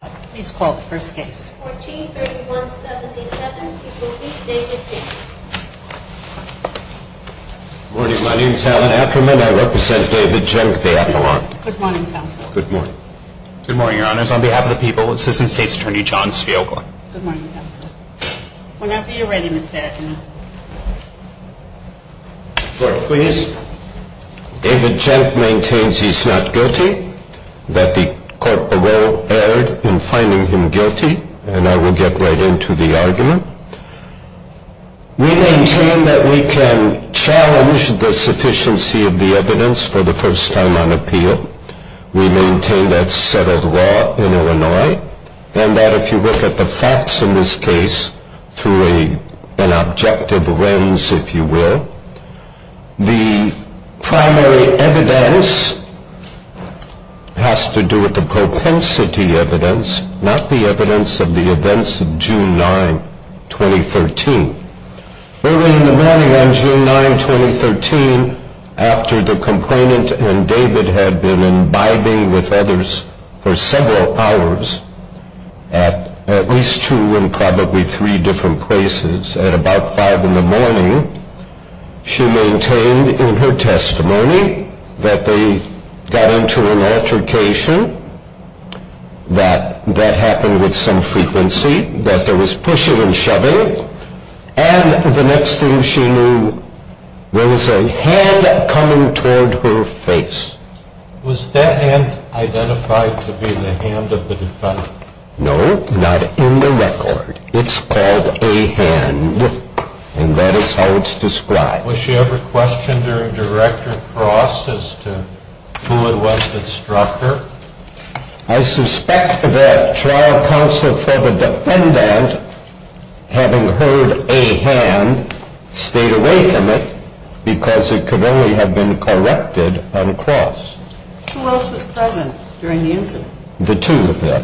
Good morning, Your Honors. On behalf of the people, Assistant State's Attorney John Svigel. Good morning, Counselor. Whenever you're ready, Mr. Ackerman. David Jenk maintains he's not guilty, that the court erred in finding him guilty, and I will get right into the argument. We maintain that we can challenge the sufficiency of the evidence for the first time on appeal. We maintain that's settled law in Illinois, and that if you look at the facts in this case through an objective lens, if you will, the primary evidence has to do with the propensity evidence, not the evidence of the events of June 9, 2013. Early in the morning on June 9, 2013, after the complainant and David had been imbibing with others for several hours, at least two and probably three different places, at about five in the morning, she maintained in her testimony that they got into an altercation, that that happened with some frequency, that there was pushing and shoving, and the next thing she knew, there was a hand coming toward her face. Was that hand identified to be the hand of the defendant? No, not in the record. It's called a hand, and that is how it's described. Was she ever questioned during direct or cross as to who it was that struck her? I suspect that trial counsel for the defendant, having heard a hand, stayed away from it because it could only have been corrected on cross. Who else was present during the incident? The two of them.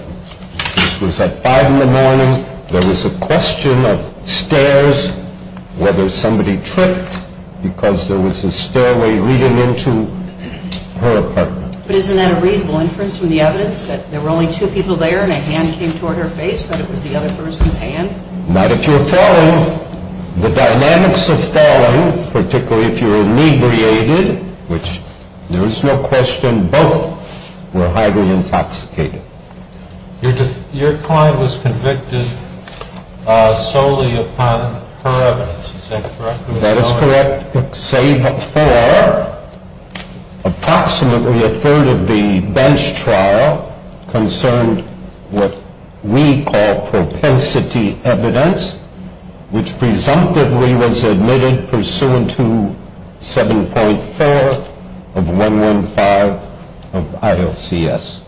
This was at five in the morning. There was a question of stairs, whether somebody tripped because there was a stairway leading into her apartment. But isn't that a reasonable inference from the evidence that there were only two people there and a hand came toward her face, that it was the other person's hand? Not if you're falling. The dynamics of falling, particularly if you're inebriated, which there is no question both were highly intoxicated. Your client was convicted solely upon her evidence. Is that correct? That is correct, save for approximately a third of the bench trial concerned what we call propensity evidence, which presumptively was admitted pursuant to 7.4 of 115 of ILCS.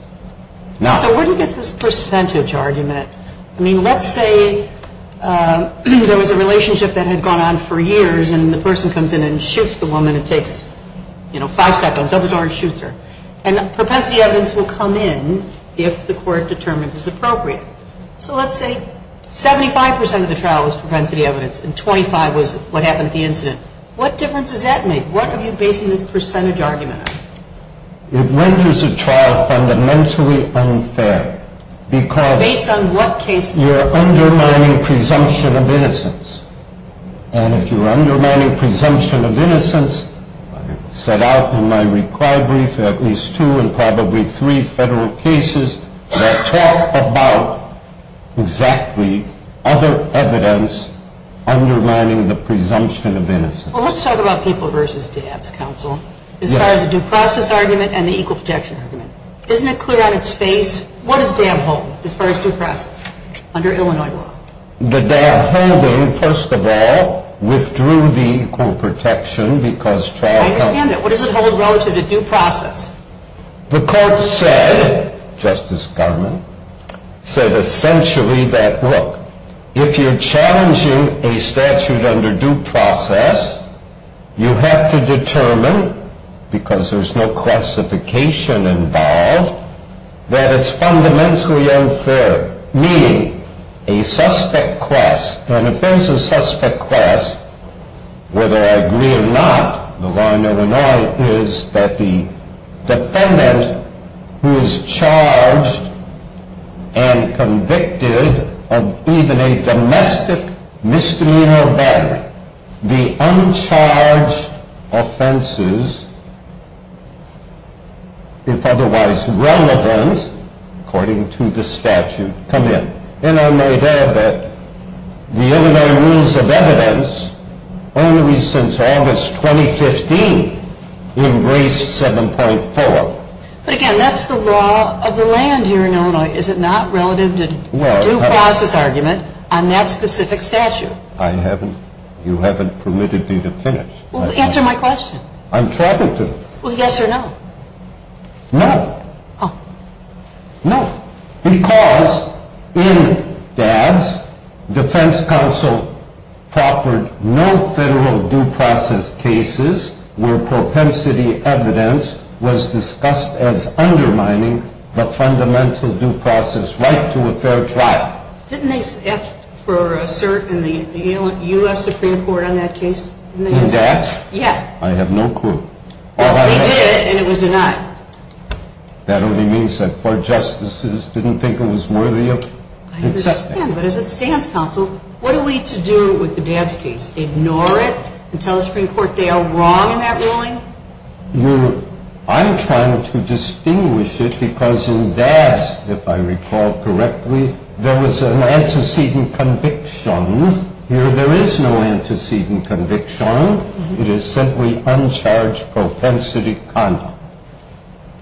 So where do you get this percentage argument? I mean, let's say there was a relationship that had gone on for years and the person comes in and shoots the woman. It takes, you know, five seconds, opens the door and shoots her. And propensity evidence will come in if the court determines it's appropriate. So let's say 75 percent of the trial was propensity evidence and 25 was what happened at the incident. What difference does that make? What are you basing this percentage argument on? It renders a trial fundamentally unfair because you're undermining presumption of innocence. And if you're undermining presumption of innocence, I set out in my required brief at least two and probably three federal cases that talk about exactly other evidence undermining the presumption of innocence. Well, let's talk about people versus dabs, counsel, as far as the due process argument and the equal protection argument. Isn't it clear on its face, what does DAB hold as far as due process under Illinois law? The DAB holding, first of all, withdrew the equal protection because trial... I understand that. What does it hold relative to due process? The court said, Justice Garmon, said essentially that, look, if you're challenging a statute under due process, you have to determine, because there's no classification involved, that it's fundamentally unfair, meaning a suspect quest. Whether I agree or not, the law in Illinois is that the defendant who is charged and convicted of even a domestic misdemeanor battery, the uncharged offenses, if otherwise relevant, according to the statute, come in. And I might add that the Illinois Rules of Evidence, only since August 2015, embraced 7.4. But again, that's the law of the land here in Illinois. Is it not relative to due process argument on that specific statute? I haven't, you haven't permitted me to finish. Well, answer my question. I'm trying to. Well, yes or no? No. Oh. No, because in DADS, defense counsel proffered no federal due process cases where propensity evidence was discussed as undermining the fundamental due process right to a fair trial. Didn't they ask for a cert in the U.S. Supreme Court on that case? In DADS? Yeah. I have no clue. Well, they did, and it was denied. That only means that four justices didn't think it was worthy of accepting. I understand, but as a defense counsel, what are we to do with the DADS case? Ignore it and tell the Supreme Court they are wrong in that ruling? You, I'm trying to distinguish it because in DADS, if I recall correctly, there was an antecedent conviction. Here there is no antecedent conviction. It is simply uncharged propensity conduct.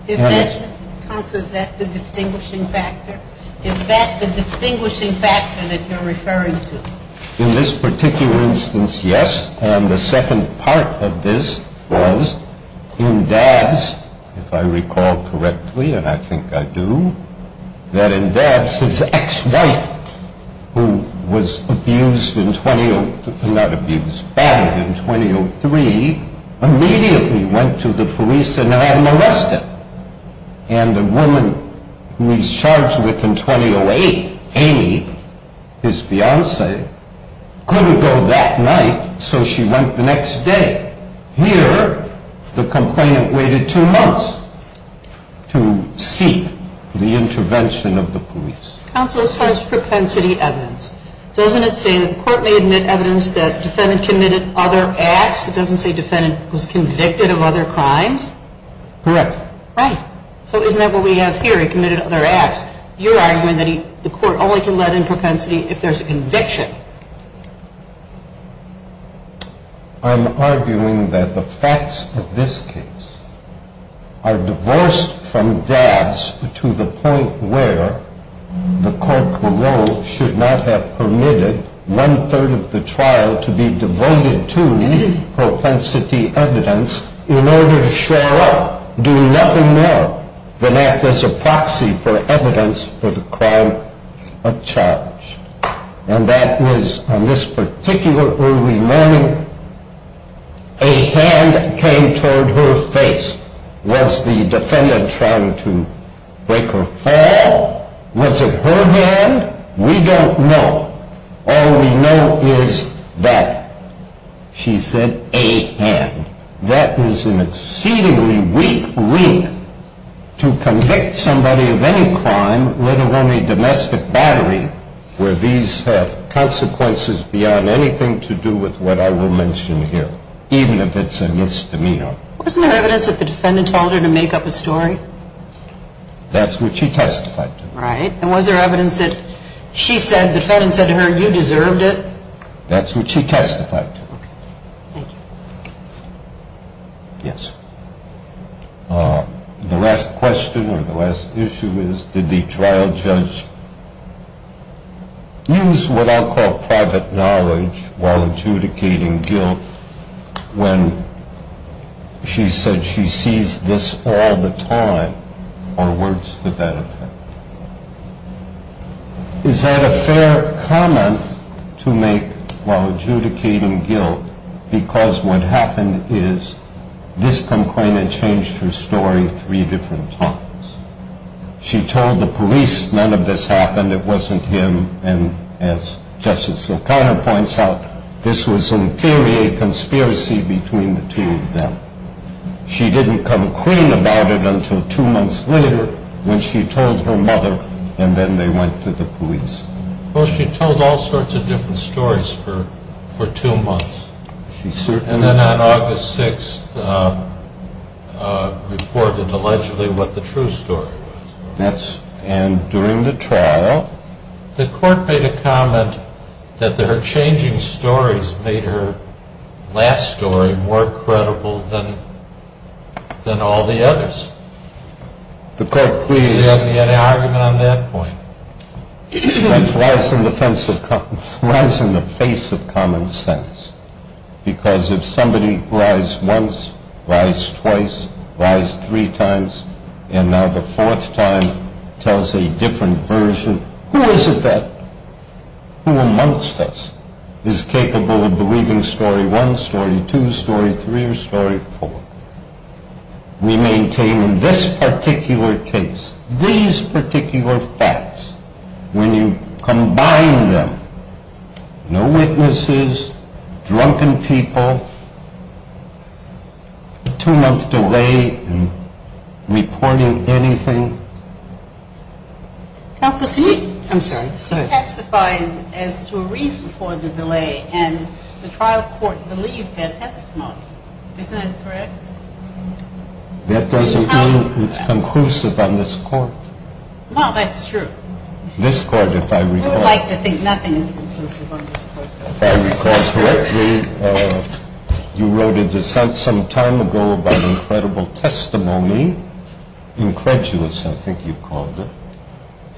Is that, counsel, is that the distinguishing factor? Is that the distinguishing factor that you're referring to? In this particular instance, yes, and the second part of this was in DADS, if I recall correctly, and I think I do, that in DADS, his ex-wife, who was abused in 20, not abused, battered in 2003, immediately went to the police and had him arrested. And the woman who he's charged with in 2008, Amy, his fiancee, couldn't go that night, so she went the next day. Here, the complainant waited two months to seek the intervention of the police. Counsel, as far as propensity evidence, doesn't it say that the court may admit evidence that the defendant committed other acts? It doesn't say the defendant was convicted of other crimes? Correct. Right. So isn't that what we have here? He committed other acts. You're arguing that the court only can let in propensity if there's a conviction. I'm arguing that the facts of this case are divorced from DADS to the point where the court below should not have permitted one-third of the trial to be devoted to propensity evidence in order to shore up, do nothing more than act as a proxy for evidence for the crime of charge. And that is, on this particular early morning, a hand came toward her face. Was the defendant trying to break her fall? Was it her hand? We don't know. All we know is that she said, a hand. That is an exceedingly weak reason to convict somebody of any crime, let alone a domestic battery, where these have consequences beyond anything to do with what I will mention here, even if it's a misdemeanor. Wasn't there evidence that the defendant told her to make up a story? That's what she testified to. Right. And was there evidence that she said, the defendant said to her, you deserved it? That's what she testified to. Okay. Thank you. Yes. The last question or the last issue is, did the trial judge use what I'll call private knowledge while adjudicating guilt when she said she sees this all the time or words to that effect? Is that a fair comment to make while adjudicating guilt? Because what happened is, this complainant changed her story three different times. She told the police none of this happened. It wasn't him. And as Justice O'Connor points out, this was in theory a conspiracy between the two of them. She didn't come clean about it until two months later when she told her mother and then they went to the police. Well, she told all sorts of different stories for two months. She certainly did. And then on August 6th reported allegedly what the true story was. And during the trial? The court made a comment that her changing stories made her last story more credible than all the others. The court, please. Do you have any argument on that point? It flies in the face of common sense. Because if somebody lies once, lies twice, lies three times, and now the fourth time tells a different version, who is it that, who amongst us, is capable of believing story one, story two, story three, or story four? We maintain in this particular case, these particular facts, when you combine them, no witnesses, drunken people, two months delay in reporting anything. Counsel, can we? I'm sorry, go ahead. She testified as to a reason for the delay and the trial court believed that testimony. Isn't that correct? That doesn't mean it's conclusive on this court. Well, that's true. This court, if I recall. We would like to think nothing is conclusive on this court. If I recall correctly, you wrote a dissent some time ago about incredible testimony, incredulous I think you called it.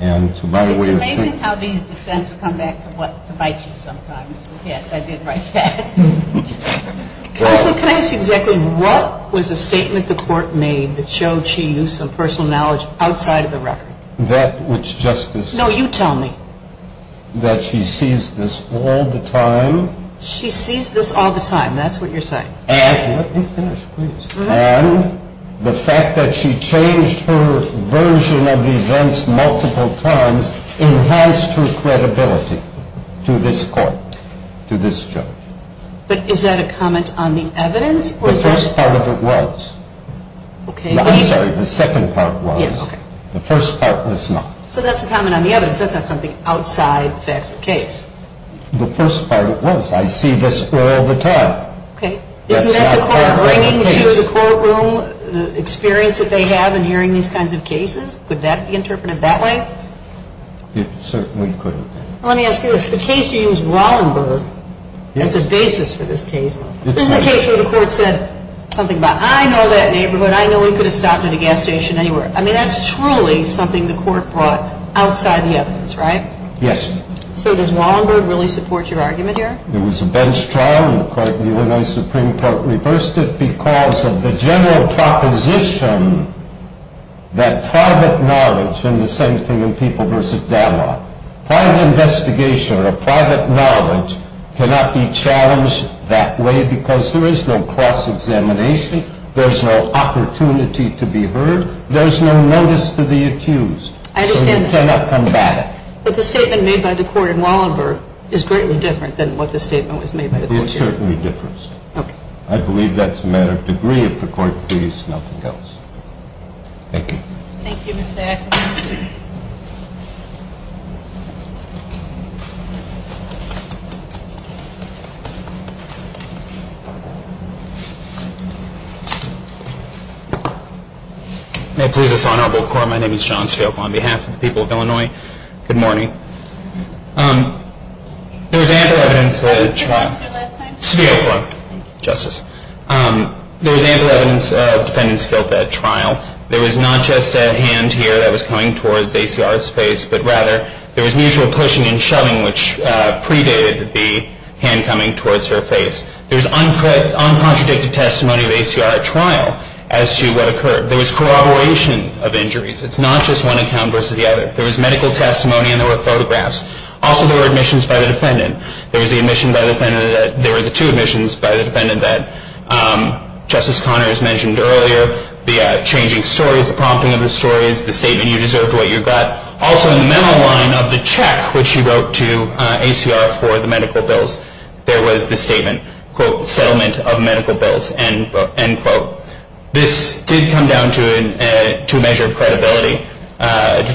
It's amazing how these dissents come back to bite you sometimes. Yes, I did write that. Counsel, can I ask you exactly what was the statement the court made that showed she used some personal knowledge outside of the record? That which justice. No, you tell me. That she sees this all the time. She sees this all the time, that's what you're saying. Let me finish, please. And the fact that she changed her version of the events multiple times enhanced her credibility to this court, to this judge. But is that a comment on the evidence? The first part of it was. I'm sorry, the second part was. The first part was not. So that's a comment on the evidence. That's not something outside the facts of the case. The first part was I see this all the time. Okay. Isn't that the court bringing to the courtroom the experience that they have in hearing these kinds of cases? Would that be interpreted that way? It certainly could have been. Let me ask you this. The case used Wallenberg as a basis for this case. This is a case where the court said something about I know that neighborhood, I know he could have stopped at a gas station anywhere. I mean, that's truly something the court brought outside the evidence, right? Yes. So does Wallenberg really support your argument here? It was a bench trial, and the court, the Illinois Supreme Court reversed it because of the general proposition that private knowledge, and the same thing in people versus data, private investigation of private knowledge cannot be challenged that way because there is no cross-examination, there's no opportunity to be heard, there's no notice to the accused. I understand that. So you cannot combat it. But the statement made by the court in Wallenberg is greatly different than what the statement was made by the court here. It is certainly different. Okay. I believe that's a matter of degree. If the court agrees, nothing else. Thank you. Thank you, Mr. Atkinson. May it please this honorable court, my name is John Svigel. I'm on behalf of the people of Illinois. Good morning. There's ample evidence that trial. Could you repeat what you said last time? Yeah, sure. Justice. There's ample evidence of defendant's guilt at trial. There was not just a hand here that was coming towards ACR's face, but rather there was mutual pushing and shoving, which predated the hand coming towards her face. There's uncontradicted testimony of ACR at trial as to what occurred. There was corroboration of injuries. It's not just one account versus the other. There was medical testimony and there were photographs. Also, there were admissions by the defendant. There was the admission by the defendant that there were the two admissions by the defendant that Justice Conner has mentioned earlier, the changing stories, the prompting of the stories, the statement you deserved what you got. Also, in the memo line of the check which she wrote to ACR for the medical bills, there was the statement, quote, settlement of medical bills, end quote. This did come down to a measure of credibility,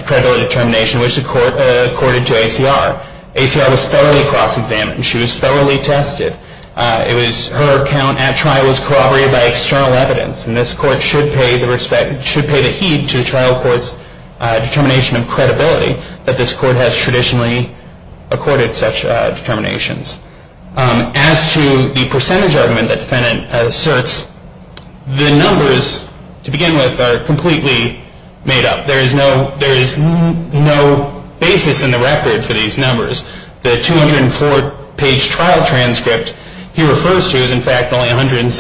credibility determination, which the court accorded to ACR. ACR was thoroughly cross-examined. She was thoroughly tested. It was her account at trial was corroborated by external evidence, and this court should pay the heed to trial court's determination of credibility that this court has traditionally accorded such determinations. As to the percentage argument the defendant asserts, the numbers, to begin with, are completely made up. There is no basis in the record for these numbers. The 204-page trial transcript he refers to is, in fact, only 176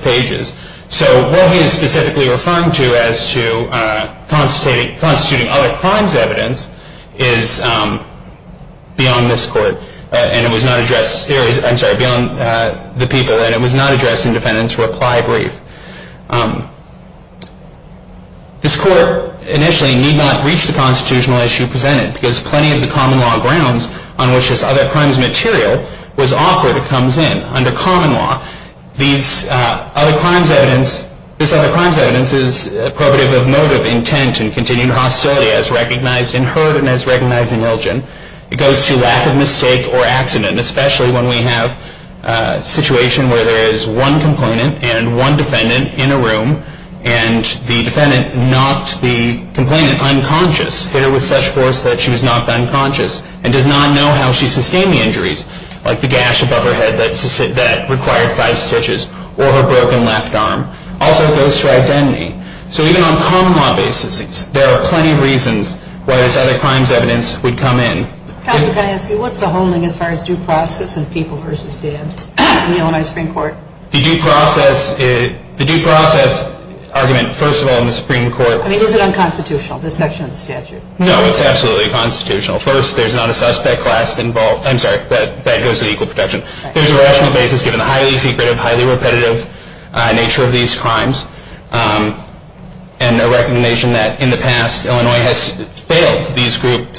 pages. So what he is specifically referring to as to constituting other crimes evidence is beyond this court, and it was not addressed, I'm sorry, beyond the people, and it was not addressed in defendant's reply brief. This court initially need not reach the constitutional issue presented because plenty of the common law grounds on which this other crimes material was offered comes in. Under common law, these other crimes evidence, this other crimes evidence is appropriate of motive, intent, and continued hostility as recognized in herd and as recognized in ilgen. It goes to lack of mistake or accident, especially when we have a situation where there is one complainant and one defendant in a room, and the defendant knocked the complainant unconscious, hit her with such force that she was knocked unconscious, and does not know how she sustained the injuries, like the gash above her head that required five stitches, or her broken left arm. Also, it goes to identity. So even on common law basis, there are plenty of reasons why this other crimes evidence would come in. Counsel, can I ask you, what's the whole thing as far as due process and people versus dams in the Illinois Supreme Court? The due process argument, first of all, in the Supreme Court. I mean, is it unconstitutional, this section of the statute? No, it's absolutely constitutional. First, there's not a suspect class involved. I'm sorry, that goes to equal protection. There's a rational basis given the highly secretive, highly repetitive nature of these crimes. And the recognition that in the past, Illinois has failed these group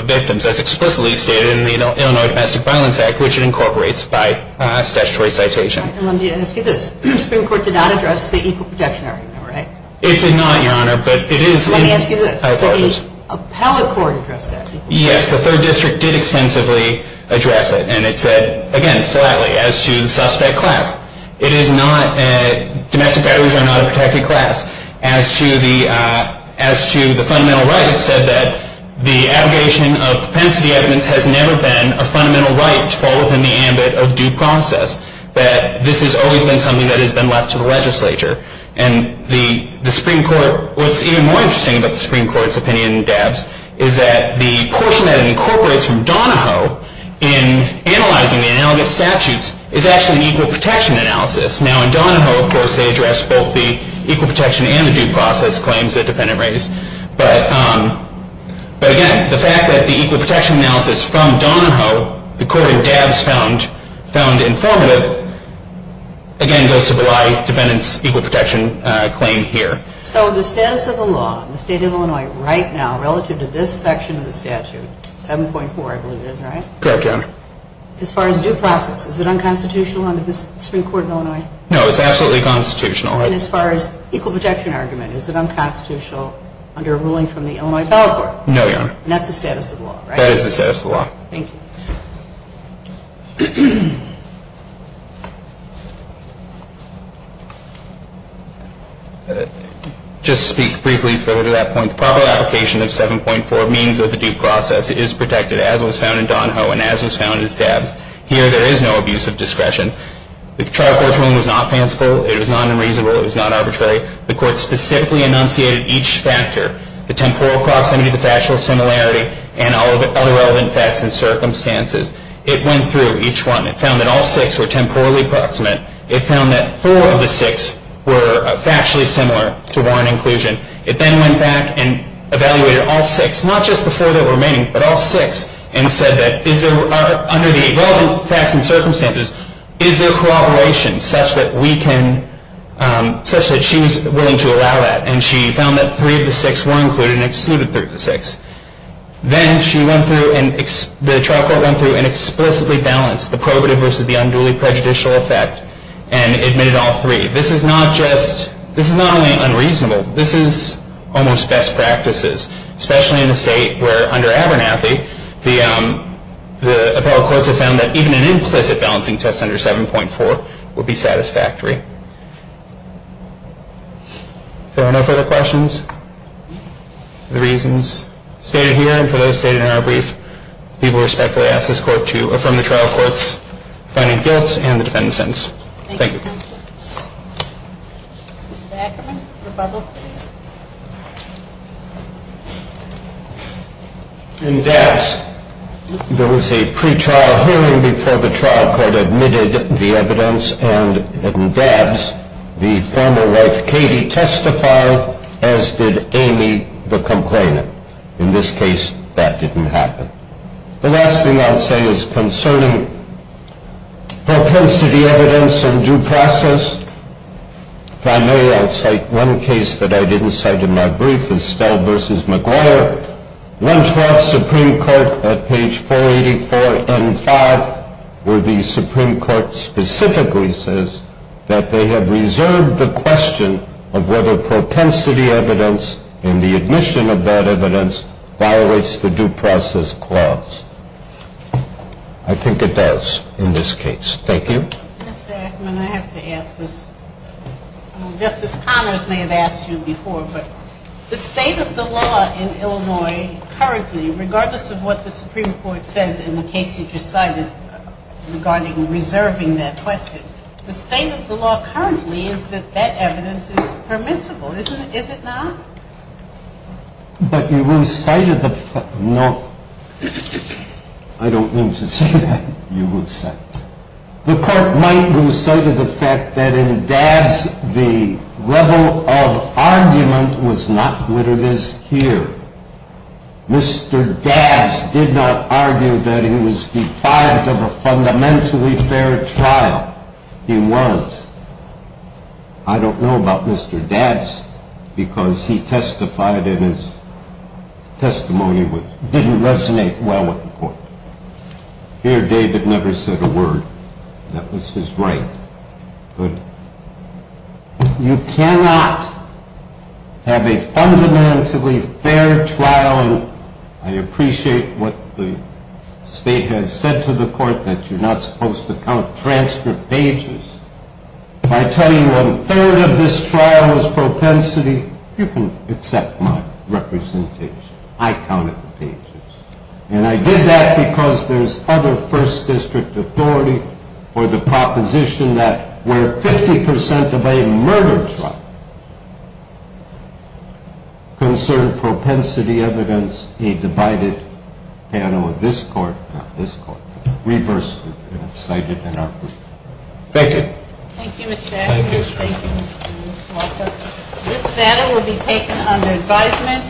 of victims, as explicitly stated in the Illinois Domestic Violence Act, which incorporates by statutory citation. Let me ask you this. The Supreme Court did not address the equal protection argument, right? It did not, Your Honor, but it is. Let me ask you this. The appellate court addressed that. Yes, the third district did extensively address it. And it said, again, flatly, as to the suspect class. Domestic batteries are not a protected class. As to the fundamental right, it said that the abrogation of propensity evidence has never been a fundamental right to fall within the ambit of due process, that this has always been something that has been left to the legislature. And the Supreme Court, what's even more interesting about the Supreme Court's opinion, Dabbs, is that the portion that it incorporates from Donahoe in analyzing the analogous statutes is actually an equal protection analysis. Now, in Donahoe, of course, they address both the equal protection and the due process claims the defendant raised. But, again, the fact that the equal protection analysis from Donahoe, the court in Dabbs found informative, again, goes to belie defendant's equal protection claim here. So the status of the law in the state of Illinois right now, relative to this section of the statute, 7.4, I believe it is, right? Correct, Your Honor. As far as due process, is it unconstitutional under this Supreme Court in Illinois? No, it's absolutely constitutional. And as far as equal protection argument, is it unconstitutional under a ruling from the Illinois Appellate Court? No, Your Honor. And that's the status of the law, right? That is the status of the law. Thank you. Just to speak briefly further to that point, the proper application of 7.4 means that the due process is protected, as was found in Donahoe and as was found in Dabbs. Here, there is no abuse of discretion. The trial court's ruling was not fanciful. It was not unreasonable. It was not arbitrary. The court specifically enunciated each factor, the temporal proximity, the factual similarity, and all of the other relevant facts and circumstances. It went through each one. It found that all six were temporally proximate. It found that four of the six were factually similar to warrant inclusion. It then went back and evaluated all six, not just the four that were remaining, but all six, and said that, under the relevant facts and circumstances, is there corroboration such that she was willing to allow that? And she found that three of the six were included and excluded three of the six. Then the trial court went through and explicitly balanced the probative versus the unduly prejudicial effect and admitted all three. This is not only unreasonable. This is almost best practices, especially in a state where, under Abernathy, the appellate courts have found that even an implicit balancing test under 7.4 would be satisfactory. If there are no further questions for the reasons stated here and for those stated in our brief, we respectfully ask this court to affirm the trial court's finding of guilt and the defendant's sentence. Thank you. Mr. Ackerman, the bubble, please. In Dabbs, there was a pre-trial hearing before the trial court admitted the evidence, and in Dabbs, the former wife, Katie, testified, as did Amy, the complainant. In this case, that didn't happen. The last thing I'll say is concerning propensity evidence and due process. If I may, I'll cite one case that I didn't cite in my brief, Estelle v. McGuire. Went to our Supreme Court at page 484 and 5, where the Supreme Court specifically says that they have reserved the question of whether propensity evidence and the admission of that evidence violates the due process clause. I think it does in this case. Thank you. Mr. Ackerman, I have to ask this. Justice Connors may have asked you before, but the state of the law in Illinois currently, regardless of what the Supreme Court says in the case you just cited regarding reserving that question, the state of the law currently is that that evidence is permissible. Is it not? But you cited the fact that in Dabbs the level of argument was not what it is here. Mr. Dabbs did not argue that he was defiant of a fundamentally fair trial. He was. I don't know about Mr. Dabbs because he testified in his testimony which didn't resonate well with the court. Here David never said a word. That was his right. But you cannot have a fundamentally fair trial, and I appreciate what the state has said to the court, that you're not supposed to count transcript pages. If I tell you one-third of this trial was propensity, you can accept my representation. I counted the pages. And I did that because there's other first district authority or the proposition that where 50 percent of a murder trial concerned propensity evidence, there was a divided panel of this court, not this court. Reverse cited in our group. Thank you. Thank you, Mr. Atkins. Thank you, Mr. Walker. This matter will be taken under advisement.